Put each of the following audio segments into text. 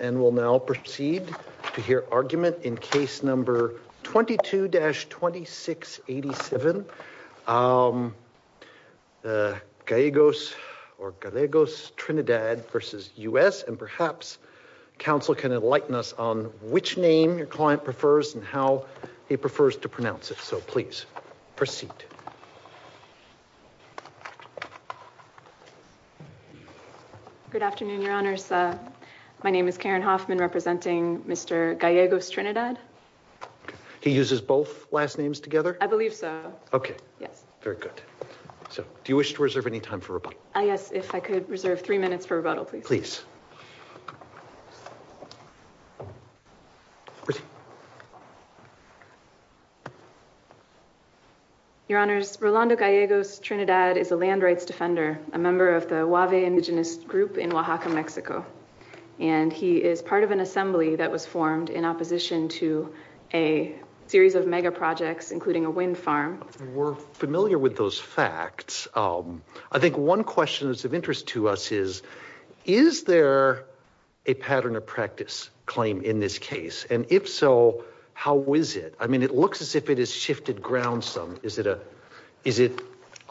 and we'll now proceed to hear argument in case number 22-2687. Gallegos or Gallegos Trinidad versus U.S. and perhaps counsel can enlighten us on which name your client prefers and how he prefers to pronounce it. Good afternoon, Your Honors. My name is Karen Hoffman representing Mr. Gallegos Trinidad. He uses both last names together? I believe so. Okay. Yes. Very good. So, do you wish to reserve any time for rebuttal? Yes, if I could reserve three minutes for rebuttal, please. Please. Your Honors, Rolando Gallegos Trinidad is a land rights defender, a member of the Wahve indigenous group in Oaxaca, Mexico, and he is part of an assembly that was formed in opposition to a series of mega projects, including a wind farm. We're familiar with those facts. I think one question that's of interest to us is, is there a pattern of practice claim in this case? And if so, how is it? I mean, it looks as if it has shifted ground some. Is it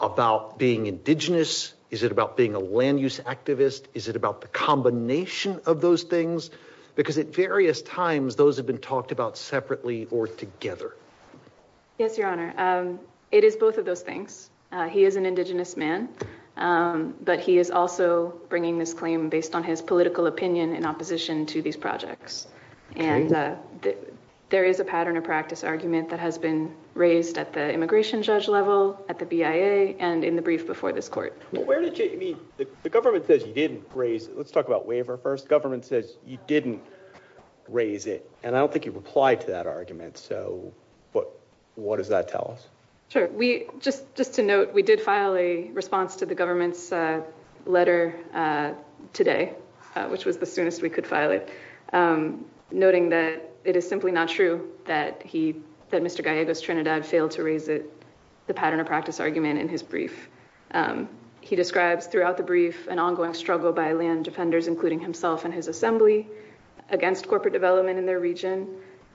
about being indigenous? Is it about being a land use activist? Is it about the combination of those things? Because at various times, those have been talked about separately or together. Yes, Your Honor. It is both of those things. He is an indigenous man, but he is also bringing this claim based on his political opinion in opposition to these projects. And there is a pattern of practice argument that has been raised at the immigration judge level, at the BIA, and in the brief before this court. But where did you—I mean, the government says you didn't raise it. Let's talk about waiver first. The government says you didn't raise it, and I don't think you've replied to that argument. So what does that tell us? Sure. Just to note, we did file a response to the government's letter today, which was the soonest we could file it, noting that it is simply not true that Mr. Gallego's Trinidad failed to raise the pattern of practice argument in his brief. He describes throughout the brief an ongoing struggle by land defenders, including himself and his assembly, against corporate development in their region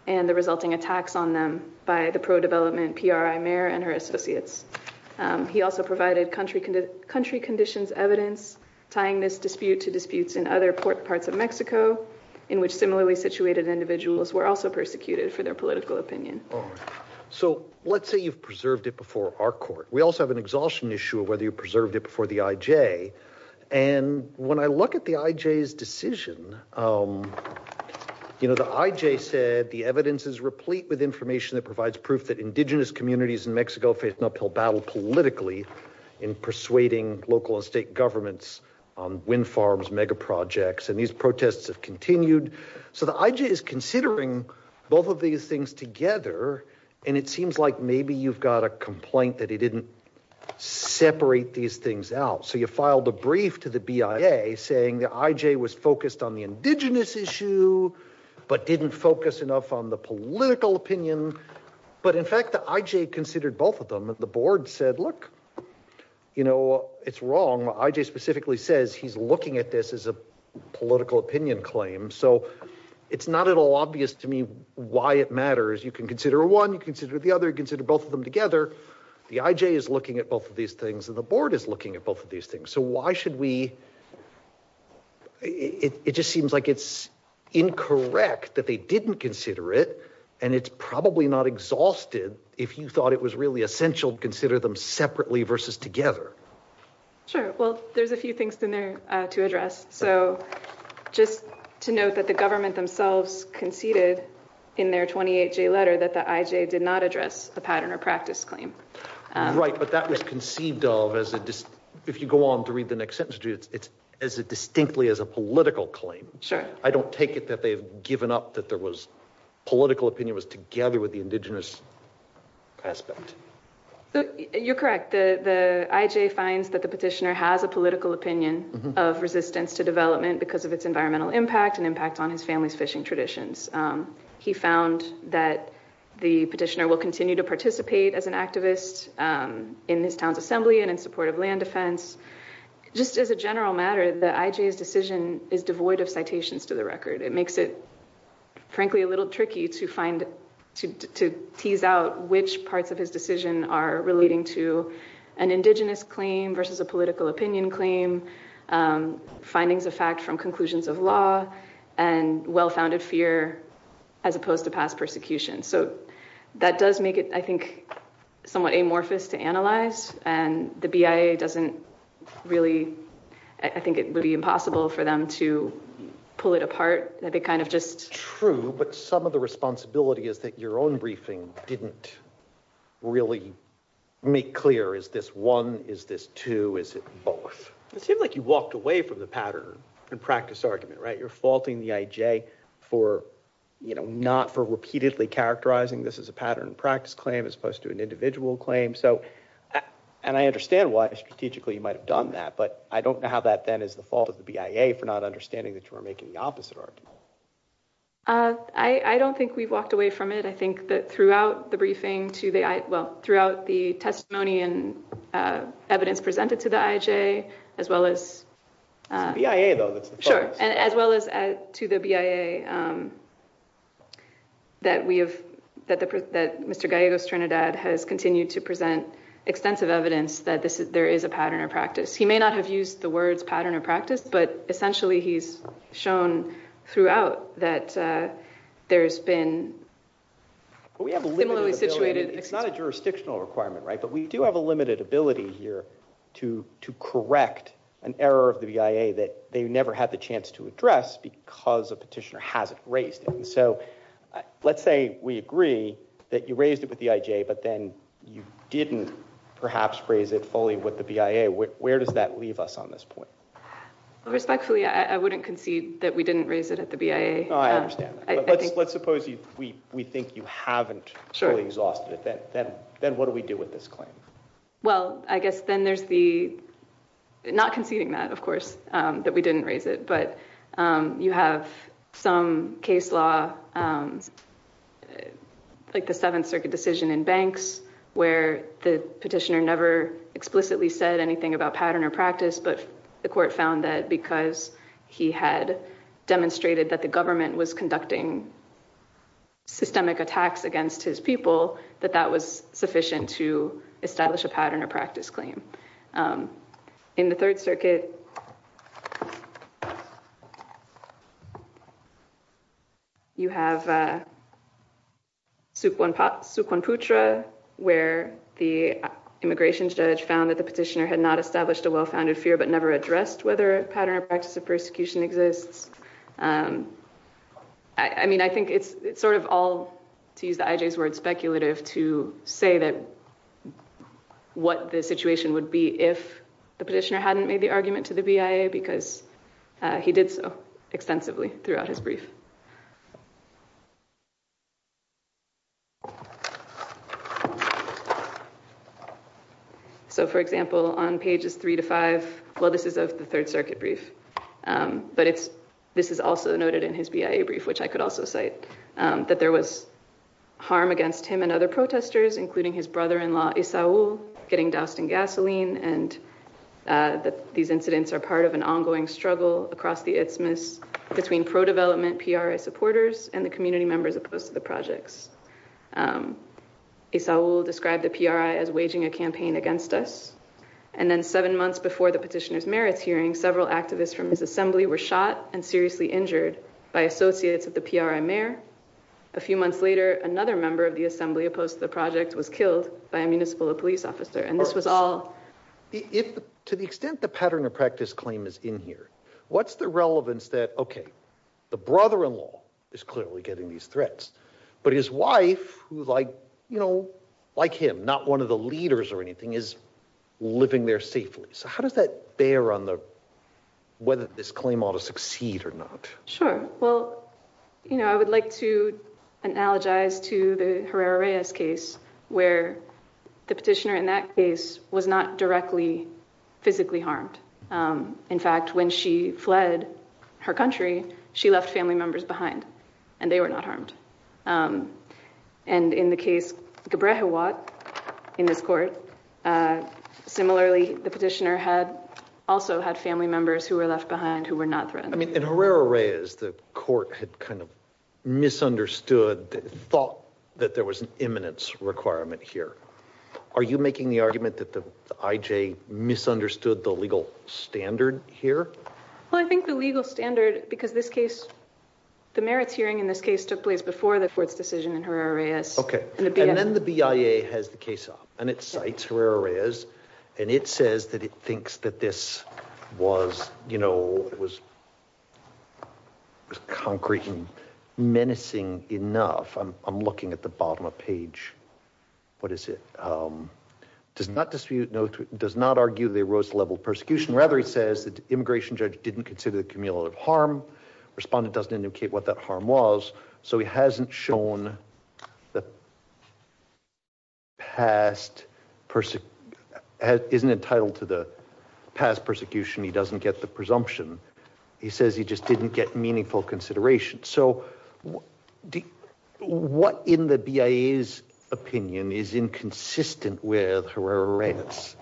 and the resulting attacks on them by the pro-development PRI mayor and her associates. He also provided country conditions evidence, tying this dispute to disputes in other parts of Mexico, in which similarly situated individuals were also persecuted for their political opinion. So let's say you've preserved it before our court. We also have an exhaustion issue of whether you preserved it before the IJ. And when I look at the IJ's decision, the IJ said the evidence is replete with information that provides proof that indigenous communities in Mexico faced an uphill battle politically in persuading local and state governments on wind farms, megaprojects, and these protests have continued. So the IJ is considering both of these things together, and it seems like maybe you've got a complaint that it didn't separate these things out. So you filed a brief to the BIA saying the IJ was focused on the indigenous issue, but didn't focus enough on the political opinion. But in fact, the IJ considered both of them. The board said, look, you know, it's wrong. The IJ specifically says he's looking at this as a political opinion claim. So it's not at all obvious to me why it matters. You can consider one, you consider the other, consider both of them together. The IJ is looking at both of these things, and the board is looking at both of these things. So why should we? It just seems like it's incorrect that they didn't consider it, and it's probably not exhausted if you thought it was really essential to consider them separately versus together. Sure. Well, there's a few things in there to address. So just to note that the government themselves conceded in their 28-J letter that the IJ did not address the pattern or practice claim. Right, but that was conceived of, if you go on to read the next sentence, as distinctly as a political claim. Sure. I don't take it that they've given up that there was political opinion was together with the indigenous aspect. You're correct. The IJ finds that the petitioner has a political opinion of resistance to development because of its environmental impact and impact on his family's fishing traditions. He found that the petitioner will continue to participate as an activist in his town's assembly and in support of land defense. Just as a general matter, the IJ's decision is devoid of citations to the record. It makes it, frankly, a little tricky to tease out which parts of his decision are relating to an indigenous claim versus a political opinion claim, findings of fact from conclusions of law, and well-founded fear as opposed to past persecution. So that does make it, I think, somewhat amorphous to analyze, and the BIA doesn't really, I think it would be impossible for them to pull it apart. True, but some of the responsibility is that your own briefing didn't really make clear, is this one, is this two, is it both? It seemed like you walked away from the pattern and practice argument, right? You're faulting the IJ for, you know, not for repeatedly characterizing this as a pattern and practice claim as opposed to an individual claim. So, and I understand why strategically you might have done that, but I don't know how that then is the fault of the BIA for not understanding that you were making the opposite argument. I don't think we've walked away from it. I think that throughout the briefing to the, well, throughout the testimony and evidence presented to the IJ, as well as- It's the BIA, though, that's the focus. Sure, as well as to the BIA, that we have, that Mr. Gallegos Trinidad has continued to present extensive evidence that there is a pattern or practice. He may not have used the words pattern or practice, but essentially he's shown throughout that there's been similarly situated- But we do have a limited ability here to correct an error of the BIA that they never had the chance to address because a petitioner hasn't raised it. So, let's say we agree that you raised it with the IJ, but then you didn't perhaps raise it fully with the BIA. Where does that leave us on this point? Respectfully, I wouldn't concede that we didn't raise it at the BIA. I understand that. Let's suppose we think you haven't fully exhausted it. Then what do we do with this claim? Well, I guess then there's the- Not conceding that, of course, that we didn't raise it, but you have some case law, like the Seventh Circuit decision in Banks, where the petitioner never explicitly said anything about pattern or practice, but the court found that because he had demonstrated that the government was conducting systemic attacks against his people, that that was sufficient to establish a pattern or practice claim. In the Third Circuit, you have Sukwon Putra, where the immigration judge found that the petitioner had not established a well-founded fear, but never addressed whether pattern or practice of persecution exists. I mean, I think it's sort of all, to use the IJ's word, speculative, to say what the situation would be if the petitioner hadn't made the argument to the BIA, because he did so extensively throughout his brief. So, for example, on pages 3 to 5, well, this is of the Third Circuit brief, but this is also noted in his BIA brief, which I could also cite, that there was harm against him and other protesters, including his brother-in-law, Issaoul, getting doused in gasoline, and that these incidents are part of an ongoing struggle across the Isthmus between pro-development PRI supporters and the community members opposed to the projects. Issaoul described the PRI as waging a campaign against us, and then seven months before the petitioner's merits hearing, several activists from his assembly were shot and seriously injured by associates of the PRI mayor. A few months later, another member of the assembly opposed to the project was killed by a municipal police officer, and this was all... To the extent the pattern of practice claim is in here, what's the relevance that, okay, the brother-in-law is clearly getting these threats, but his wife, who like, you know, like him, not one of the leaders or anything, is living there safely? So how does that bear on whether this claim ought to succeed or not? Sure. Well, you know, I would like to analogize to the Herrera-Reyes case where the petitioner in that case was not directly physically harmed. In fact, when she fled her country, she left family members behind, and they were not harmed. And in the case Gebrehiwat, in this court, similarly the petitioner also had family members who were left behind who were not threatened. I mean, in Herrera-Reyes, the court had kind of misunderstood, thought that there was an imminence requirement here. Are you making the argument that the IJ misunderstood the legal standard here? Well, I think the legal standard, because this case, the merits hearing in this case took place before the court's decision in Herrera-Reyes. Okay. And then the BIA has the case up, and it cites Herrera-Reyes, and it says that it thinks that this was, you know, was concrete and menacing enough. I'm looking at the bottom of the page. What is it? Does not dispute, does not argue the erosive level of persecution. Rather, it says that the immigration judge didn't consider the cumulative harm. Respondent doesn't indicate what that harm was. So he hasn't shown the past, isn't entitled to the past persecution. He doesn't get the presumption. He says he just didn't get meaningful consideration. So what in the BIA's opinion is inconsistent with Herrera-Reyes?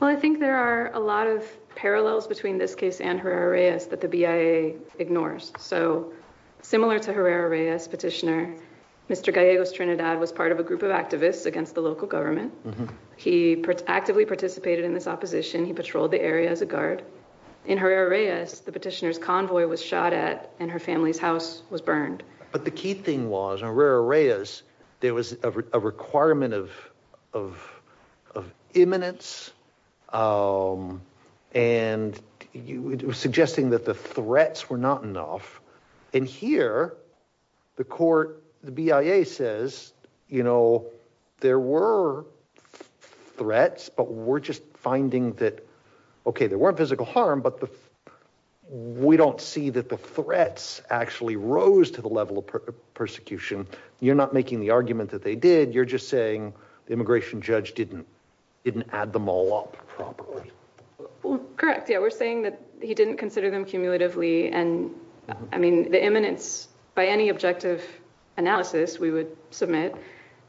Well, I think there are a lot of parallels between this case and Herrera-Reyes that the BIA ignores. So similar to Herrera-Reyes petitioner, Mr. Gallego's Trinidad was part of a group of activists against the local government. He actively participated in this opposition. He patrolled the area as a guard in Herrera-Reyes. The petitioner's convoy was shot at and her family's house was burned. But the key thing was in Herrera-Reyes, there was a requirement of imminence. And it was suggesting that the threats were not enough. And here, the court, the BIA says, you know, there were threats. But we're just finding that, okay, there weren't physical harm. But we don't see that the threats actually rose to the level of persecution. You're not making the argument that they did. You're just saying the immigration judge didn't add them all up properly. Correct. Yeah, we're saying that he didn't consider them cumulatively. And, I mean, the imminence, by any objective analysis we would submit,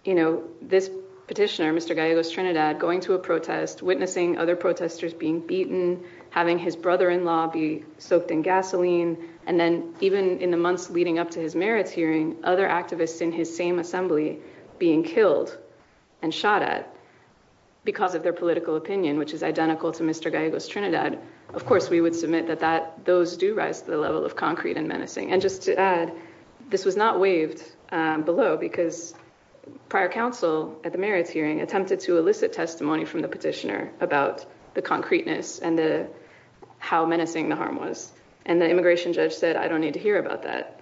you know, this petitioner, Mr. Gallego's Trinidad, going to a protest, witnessing other protesters being beaten, having his brother-in-law be soaked in gasoline. And then even in the months leading up to his merits hearing, other activists in his same assembly being killed and shot at because of their political opinion, which is identical to Mr. Gallego's Trinidad. Of course, we would submit that those do rise to the level of concrete and menacing. And just to add, this was not waived below because prior counsel at the merits hearing attempted to elicit testimony from the petitioner about the concreteness and how menacing the harm was. And the immigration judge said, I don't need to hear about that.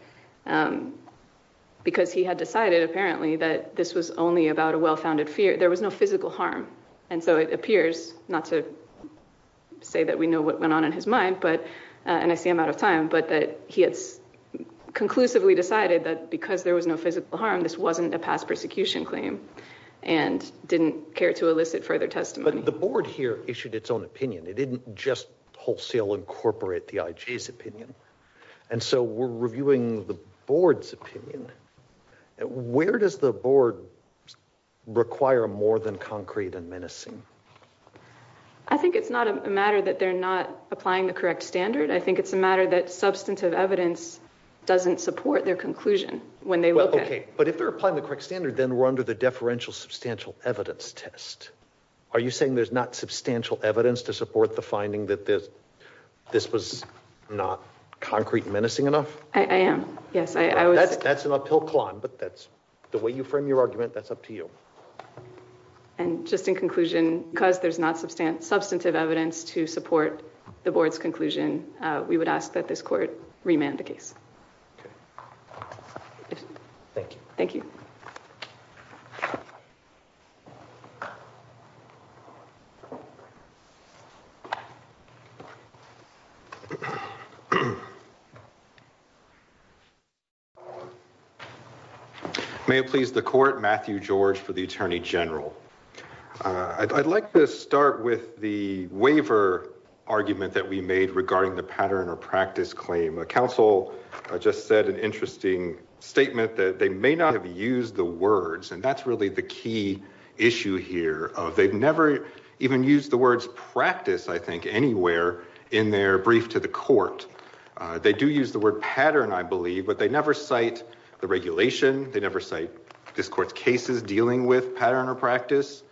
Because he had decided, apparently, that this was only about a well-founded fear. There was no physical harm. And so it appears, not to say that we know what went on in his mind, and I see I'm out of time, but that he had conclusively decided that because there was no physical harm, this wasn't a past persecution claim and didn't care to elicit further testimony. But the board here issued its own opinion. It didn't just wholesale incorporate the IG's opinion. And so we're reviewing the board's opinion. Where does the board require more than concrete and menacing? I think it's not a matter that they're not applying the correct standard. I think it's a matter that substantive evidence doesn't support their conclusion when they look at it. Okay, but if they're applying the correct standard, then we're under the deferential substantial evidence test. Are you saying there's not substantial evidence to support the finding that this was not concrete and menacing enough? I am, yes. That's an uphill climb, but the way you frame your argument, that's up to you. And just in conclusion, because there's not substantive evidence to support the board's conclusion, we would ask that this court remand the case. Thank you. May it please the court, Matthew George for the Attorney General. I'd like to start with the waiver argument that we made regarding the pattern or practice claim. Council just said an interesting statement that they may not have used the words, and that's really the key issue here. They've never even used the words practice, I think, anywhere in their brief to the court. They do use the word pattern, I believe, but they never cite the regulation. They never cite this court's cases dealing with pattern or practice.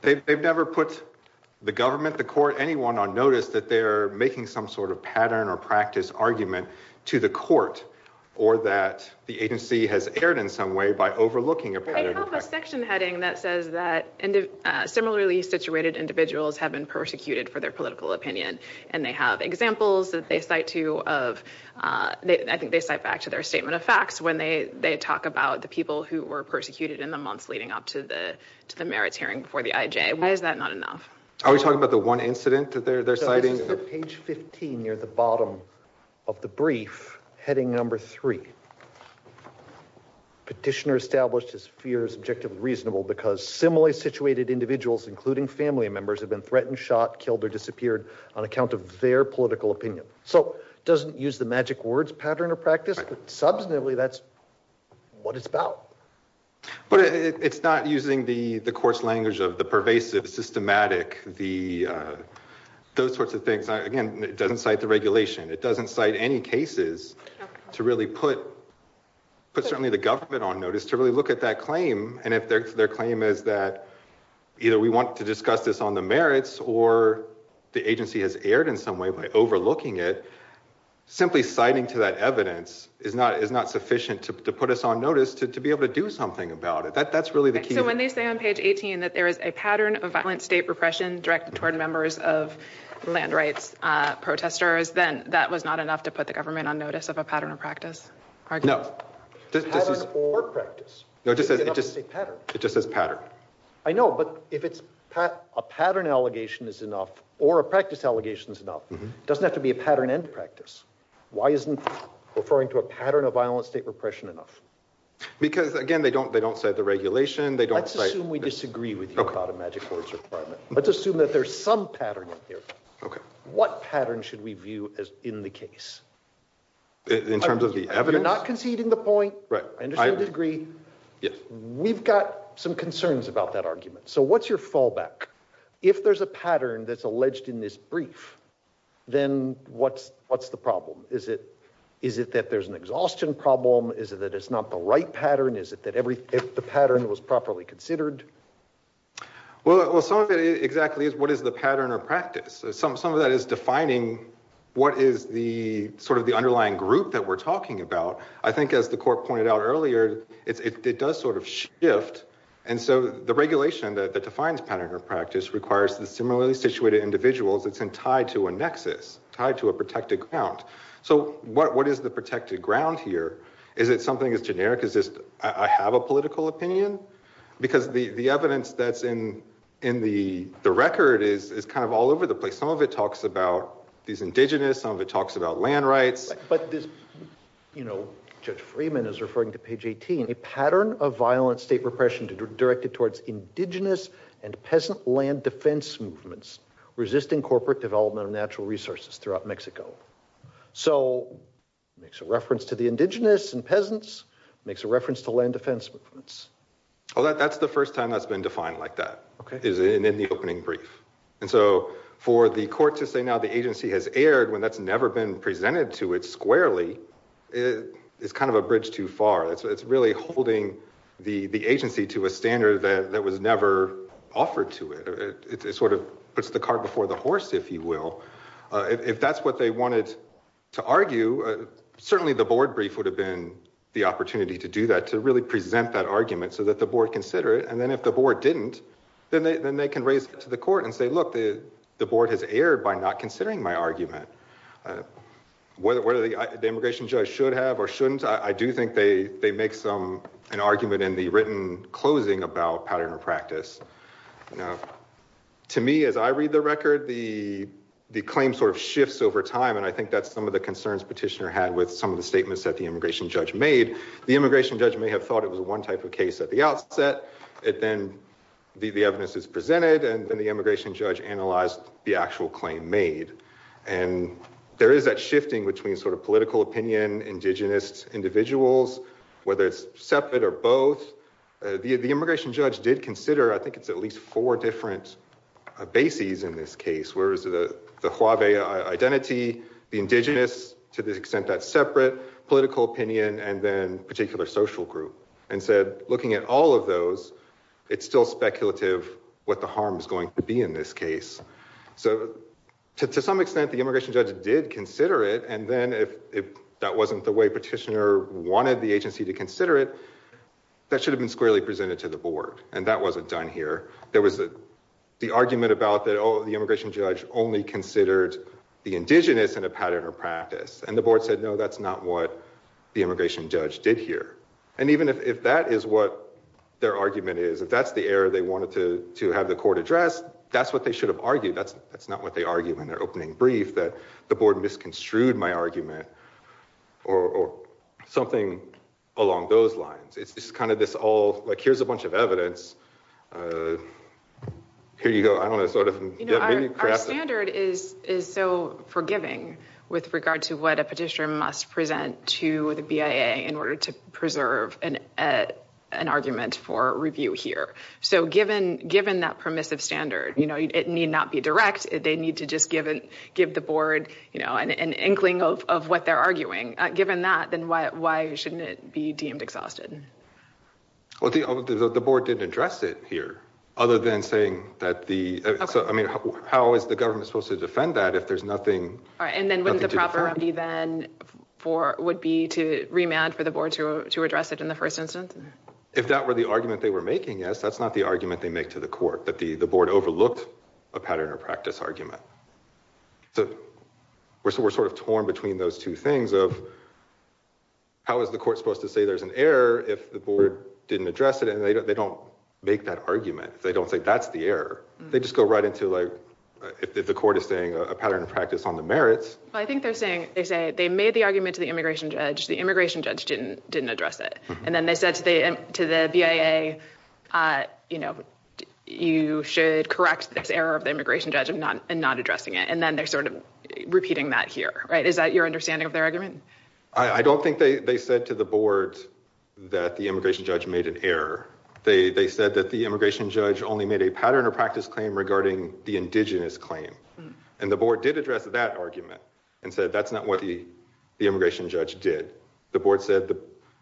They've never put the government, the court, anyone on notice that they're making some sort of pattern or practice argument to the court, or that the agency has erred in some way by overlooking a pattern or practice. They have a section heading that says that similarly situated individuals have been persecuted for their political opinion, and they have examples that they cite back to their statement of facts when they talk about the people who were persecuted in the months leading up to the merits hearing for the IJ. Why is that not enough? Are we talking about the one incident that they're citing? This is page 15 near the bottom of the brief, heading number three. Petitioner established his fear is objectively reasonable because similarly situated individuals, including family members, have been threatened, shot, killed, or disappeared on account of their political opinion. So it doesn't use the magic words pattern or practice, but substantively that's what it's about. But it's not using the court's language of the pervasive, systematic, those sorts of things. Again, it doesn't cite the regulation. It doesn't cite any cases to really put certainly the government on notice to really look at that claim, and if their claim is that either we want to discuss this on the merits or the agency has erred in some way by overlooking it, simply citing to that evidence is not sufficient to put us on notice to be able to do something about it. That's really the key. So when they say on page 18 that there is a pattern of violent state repression directed toward members of land rights protesters, then that was not enough to put the government on notice of a pattern or practice argument? No. Pattern or practice. No, it just says pattern. It just says pattern. I know, but if a pattern allegation is enough or a practice allegation is enough, it doesn't have to be a pattern and practice. Why isn't referring to a pattern of violent state repression enough? Because, again, they don't cite the regulation. Let's assume we disagree with you about a magic words requirement. Let's assume that there's some pattern in here. Okay. What pattern should we view in the case? In terms of the evidence? You're not conceding the point. Right. I understand the degree. Yes. We've got some concerns about that argument. So what's your fallback? If there's a pattern that's alleged in this brief, then what's the problem? Is it that there's an exhaustion problem? Is it that it's not the right pattern? Is it that the pattern was properly considered? Well, some of it exactly is what is the pattern or practice. Some of that is defining what is the sort of the underlying group that we're talking about. I think, as the court pointed out earlier, it does sort of shift. And so the regulation that defines pattern or practice requires the similarly situated individuals that's tied to a nexus, tied to a protected ground. So what is the protected ground here? Is it something that's generic? Is this I have a political opinion? Because the evidence that's in the record is kind of all over the place. Some of it talks about these indigenous. Some of it talks about land rights. But this, you know, Judge Freeman is referring to page 18. A pattern of violent state repression directed towards indigenous and peasant land defense movements resisting corporate development of natural resources throughout Mexico. So it makes a reference to the indigenous and peasants. It makes a reference to land defense movements. Well, that's the first time that's been defined like that is in the opening brief. And so for the court to say now the agency has aired when that's never been presented to it squarely is kind of a bridge too far. It's really holding the agency to a standard that was never offered to it. It sort of puts the cart before the horse, if you will. If that's what they wanted to argue, certainly the board brief would have been the opportunity to do that, to really present that argument so that the board consider it. And then if the board didn't, then they can raise it to the court and say, look, the board has aired by not considering my argument. Whether the immigration judge should have or shouldn't, I do think they make some an argument in the written closing about pattern of practice. To me, as I read the record, the claim sort of shifts over time. And I think that's some of the concerns petitioner had with some of the statements that the immigration judge made. The immigration judge may have thought it was one type of case at the outset. It then the evidence is presented and then the immigration judge analyzed the actual claim made. And there is that shifting between sort of political opinion, indigenous individuals, whether it's separate or both. The immigration judge did consider, I think it's at least four different bases in this case. Where is the identity, the indigenous to the extent that separate political opinion and then particular social group? And said, looking at all of those, it's still speculative what the harm is going to be in this case. So to some extent, the immigration judge did consider it. And then if that wasn't the way petitioner wanted the agency to consider it, that should have been squarely presented to the board. And that wasn't done here. There was the argument about that the immigration judge only considered the indigenous in a pattern or practice. And the board said, no, that's not what the immigration judge did here. And even if that is what their argument is, if that's the error they wanted to have the court address, that's what they should have argued. That's not what they argue in their opening brief, that the board misconstrued my argument or something along those lines. It's kind of this all like, here's a bunch of evidence. Here you go. I don't know. Sort of. You know, our standard is is so forgiving with regard to what a petitioner must present to the BIA in order to preserve an argument for review here. So given given that permissive standard, you know, it need not be direct. They need to just give it give the board, you know, an inkling of what they're arguing. Given that, then why shouldn't it be deemed exhausted? Well, the board didn't address it here other than saying that the. I mean, how is the government supposed to defend that if there's nothing? And then what is the proper remedy then for would be to remand for the board to to address it in the first instance? If that were the argument they were making, yes, that's not the argument they make to the court, that the board overlooked a pattern of practice argument. So we're sort of torn between those two things of. How is the court supposed to say there's an error if the board didn't address it and they don't make that argument? They don't say that's the error. They just go right into like if the court is saying a pattern of practice on the merits. I think they're saying they say they made the argument to the immigration judge. The immigration judge didn't didn't address it. And then they said to the to the BIA, you know, you should correct this error of the immigration judge and not and not addressing it. And then they're sort of repeating that here. Right. Is that your understanding of their argument? I don't think they said to the board that the immigration judge made an error. They said that the immigration judge only made a pattern of practice claim regarding the indigenous claim. And the board did address that argument and said that's not what the immigration judge did. The board said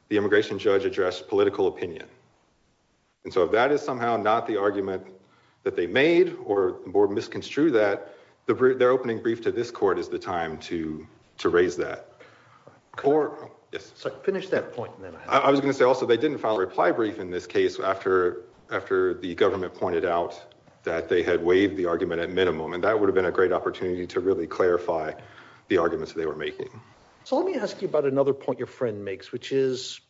the immigration judge addressed political opinion. And so if that is somehow not the argument that they made or more misconstrued that their opening brief to this court is the time to to raise that court. Yes. So finish that point. I was going to say also they didn't file a reply brief in this case after after the government pointed out that they had waived the argument at minimum. And that would have been a great opportunity to really clarify the arguments they were making. So let me ask you about another point your friend makes, which is.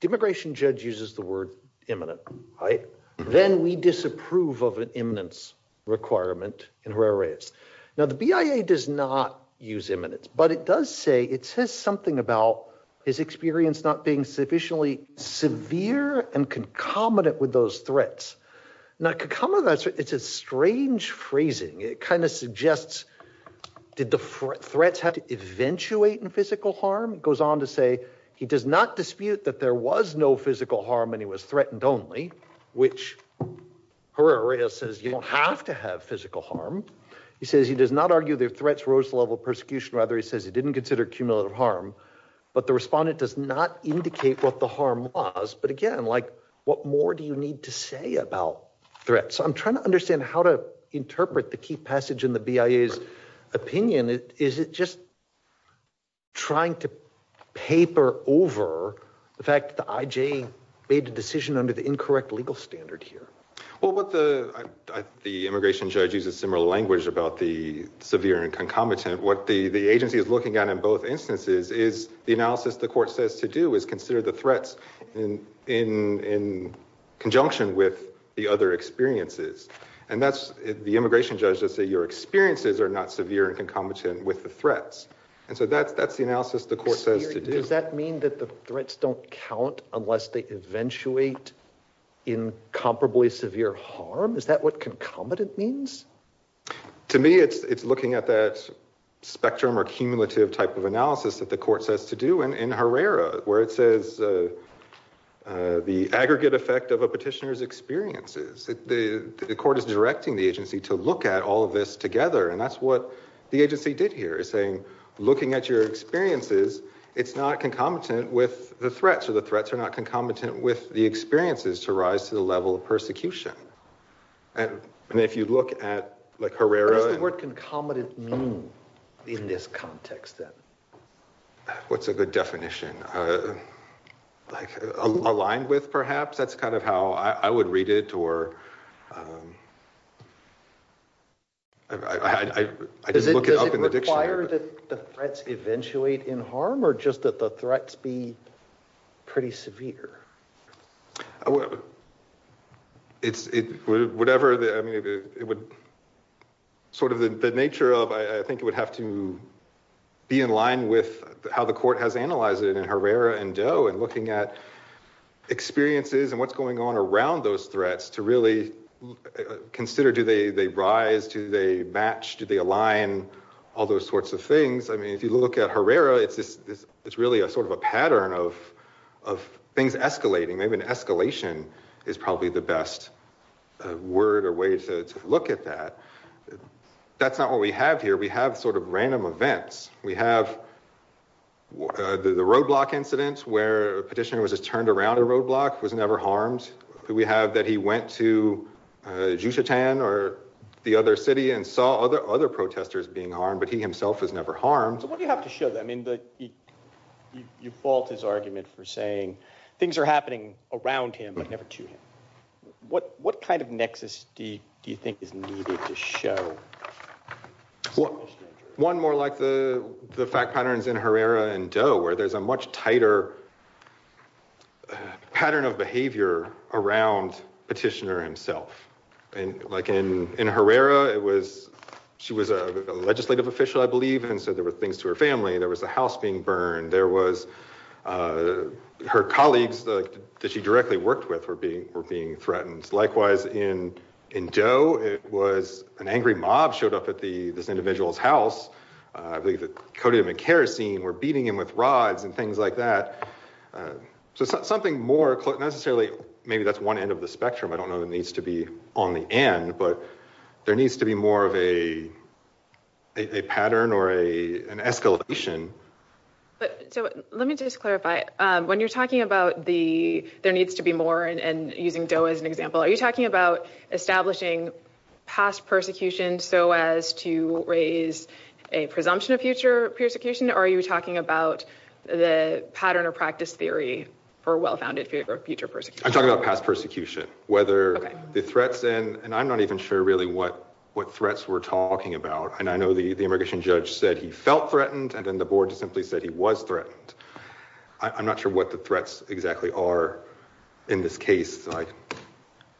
The immigration judge uses the word imminent, right? Then we disapprove of an imminence requirement in her areas. Now, the BIA does not use imminence, but it does say it says something about his experience not being sufficiently severe and concomitant with those threats. Now, it's a strange phrasing. It kind of suggests did the threats have to eventuate in physical harm? It goes on to say he does not dispute that there was no physical harm and he was threatened only, which her area says you don't have to have physical harm. He says he does not argue their threats rose level persecution. Rather, he says he didn't consider cumulative harm, but the respondent does not indicate what the harm was. But again, like what more do you need to say about threats? I'm trying to understand how to interpret the key passage in the BIA's opinion. Is it just trying to paper over the fact that the IJ made the decision under the incorrect legal standard here? Well, what the the immigration judge uses similar language about the severe and concomitant. What the agency is looking at in both instances is the analysis the court says to do is consider the threats in conjunction with the other experiences. And that's the immigration judge to say your experiences are not severe and concomitant with the threats. And so that's that's the analysis the court says. Does that mean that the threats don't count unless they eventuate in comparably severe harm? Is that what concomitant means? To me, it's it's looking at that spectrum or cumulative type of analysis that the court says to do. And in Herrera, where it says the aggregate effect of a petitioner's experiences, the court is directing the agency to look at all of this together. And that's what the agency did here is saying, looking at your experiences, it's not concomitant with the threats or the threats are not concomitant with the experiences to rise to the level of persecution. And if you look at Herrera. What does the word concomitant mean in this context? What's a good definition? Like aligned with perhaps that's kind of how I would read it or I just look it up in the dictionary. Does it require that the threats eventuate in harm or just that the threats be pretty severe? Well, it's whatever. I mean, it would sort of the nature of I think it would have to be in line with how the court has analyzed it in Herrera and Doe and looking at experiences and what's going on around those threats to really consider. Do they rise to the match? Do they align all those sorts of things? I mean, if you look at Herrera, it's really a sort of a pattern of things escalating. Maybe an escalation is probably the best word or way to look at that. That's not what we have here. We have sort of random events. We have the roadblock incidents where a petitioner was turned around a roadblock, was never harmed. We have that he went to Juchitan or the other city and saw other protesters being harmed, but he himself was never harmed. So what do you have to show them? I mean, you fault his argument for saying things are happening around him, but never to him. What kind of nexus do you think is needed to show? One more like the fact patterns in Herrera and Doe where there's a much tighter pattern of behavior around petitioner himself. And like in Herrera, she was a legislative official, I believe. And so there were things to her family. There was a house being burned. There was her colleagues that she directly worked with were being threatened. Likewise in Doe, it was an angry mob showed up at this individual's house. I believe they coated him in kerosene, were beating him with rods and things like that. So something more necessarily, maybe that's one end of the spectrum. I don't know that needs to be on the end, but there needs to be more of a pattern or an escalation. So let me just clarify when you're talking about the there needs to be more and using Doe as an example. Are you talking about establishing past persecution so as to raise a presumption of future persecution? Are you talking about the pattern or practice theory for a well-founded future persecution? I'm talking about past persecution, whether the threats and I'm not even sure really what threats we're talking about. And I know the immigration judge said he felt threatened. And then the board just simply said he was threatened. I'm not sure what the threats exactly are in this case.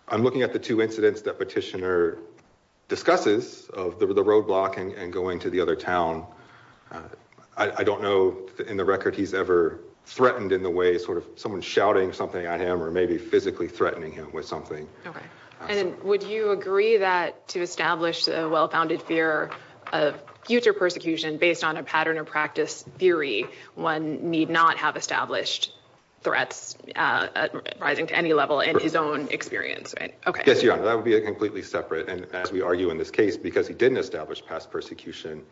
I'm looking at the two incidents that petitioner discusses of the roadblock and going to the other town. I don't know in the record he's ever threatened in the way sort of someone shouting something at him or maybe physically threatening him with something. And then would you agree that to establish a well-founded fear of future persecution based on a pattern or practice theory? One need not have established threats rising to any level in his own experience. I guess that would be a completely separate. And as we argue in this case, because he didn't establish past persecution,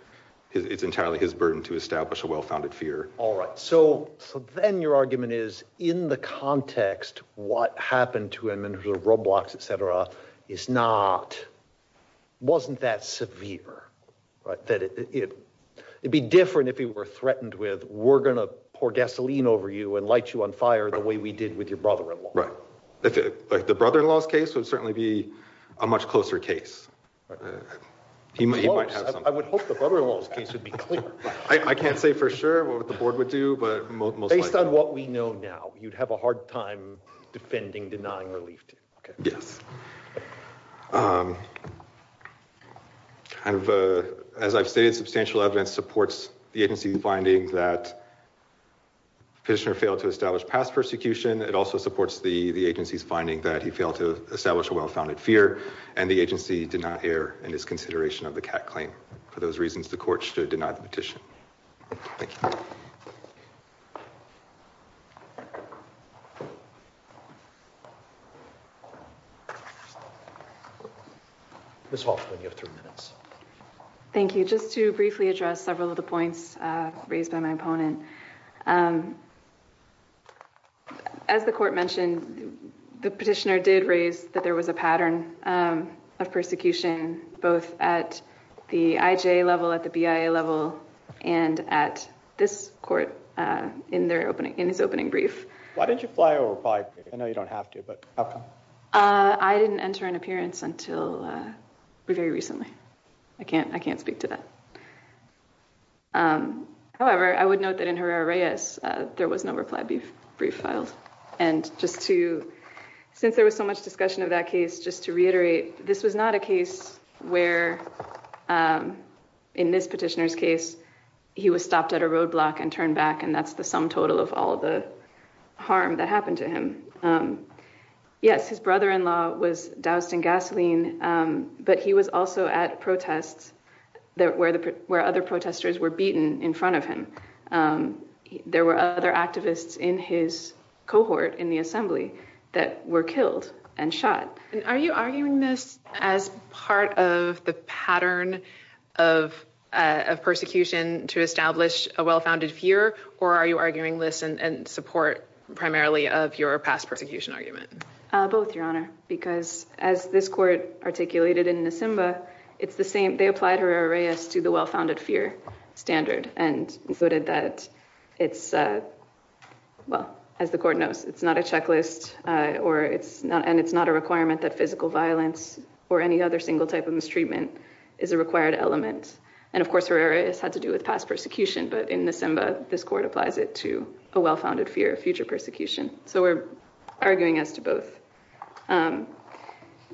it's entirely his burden to establish a well-founded fear. All right. So then your argument is in the context, what happened to him and the roadblocks, etc. is not, wasn't that severe? That it would be different if he were threatened with we're going to pour gasoline over you and light you on fire the way we did with your brother-in-law. Right. The brother-in-law's case would certainly be a much closer case. I would hope the brother-in-law's case would be clear. I can't say for sure what the board would do, but most likely. Based on what we know now, you'd have a hard time defending denying relief to him. Yes. As I've stated, substantial evidence supports the agency's finding that Petitioner failed to establish past persecution. It also supports the agency's finding that he failed to establish a well-founded fear. And the agency did not err in its consideration of the CAC claim. For those reasons, the court should deny the petition. Thank you. Ms. Hoffman, you have three minutes. Thank you. Just to briefly address several of the points raised by my opponent. As the court mentioned, the petitioner did raise that there was a pattern of persecution both at the IJA level, at the BIA level, and at this court in his opening brief. Why didn't you fly over? I know you don't have to, but how come? I didn't enter an appearance until very recently. I can't speak to that. However, I would note that in Herrera-Reyes, there was no reply brief filed. Since there was so much discussion of that case, just to reiterate, this was not a case where, in this petitioner's case, he was stopped at a roadblock and turned back, and that's the sum total of all the harm that happened to him. Yes, his brother-in-law was doused in gasoline, but he was also at protests where other protesters were beaten in front of him. There were other activists in his cohort in the assembly that were killed and shot. Are you arguing this as part of the pattern of persecution to establish a well-founded fear, or are you arguing this in support primarily of your past persecution argument? Both, Your Honor, because as this court articulated in Nisimba, they applied Herrera-Reyes to the well-founded fear standard and noted that, as the court knows, it's not a checklist, and it's not a requirement that physical violence or any other single type of mistreatment is a required element. And, of course, Herrera-Reyes had to do with past persecution, but in Nisimba, this court applies it to a well-founded fear of future persecution, so we're arguing as to both.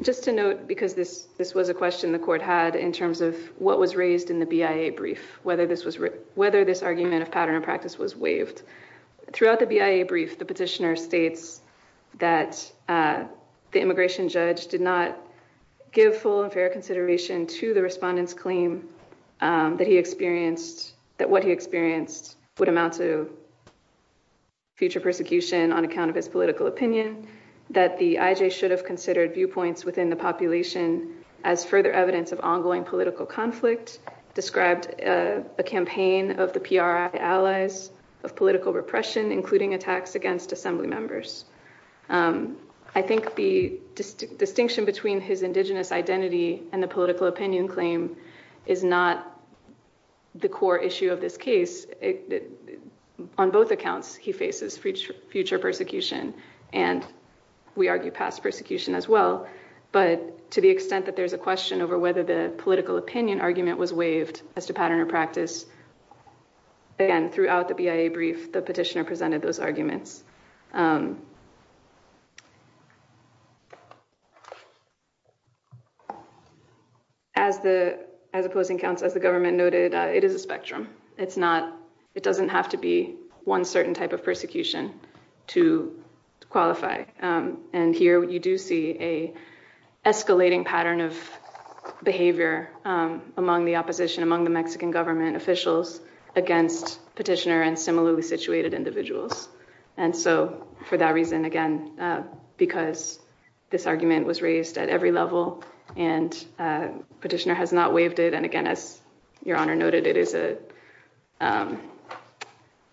Just to note, because this was a question the court had in terms of what was raised in the BIA brief, whether this argument of pattern of practice was waived, throughout the BIA brief, the petitioner states that the immigration judge did not give full and fair consideration to the respondent's claim that what he experienced would amount to future persecution on account of his political opinion, that the IJ should have considered viewpoints within the population as further evidence of ongoing political conflict, described a campaign of the PRI allies of political repression, including attacks against assembly members. I think the distinction between his indigenous identity and the political opinion claim is not the core issue of this case. On both accounts, he faces future persecution, and we argue past persecution as well, but to the extent that there's a question over whether the political opinion argument was waived as to pattern of practice, again, throughout the BIA brief, the petitioner presented those arguments. As the opposing counsel, as the government noted, it is a spectrum. It doesn't have to be one certain type of persecution to qualify, and here you do see an escalating pattern of behavior among the opposition, among the Mexican government officials, against petitioner and similarly situated individuals. And so for that reason, again, because this argument was raised at every level, and petitioner has not waived it, and again, as your honor noted, it is a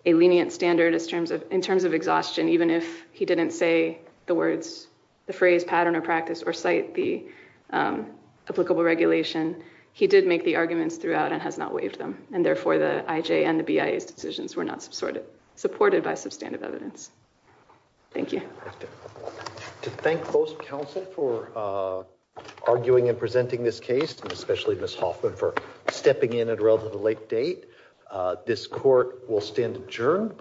lenient standard in terms of exhaustion, even if he didn't say the words, the phrase, pattern of practice, or cite the applicable regulation, he did make the arguments throughout and has not waived them. And therefore the IJ and the BIA's decisions were not supported by substantive evidence. Thank you. To thank both counsel for arguing and presenting this case, and especially Ms. Hoffman for stepping in at a relatively late date, this court will stand adjourned.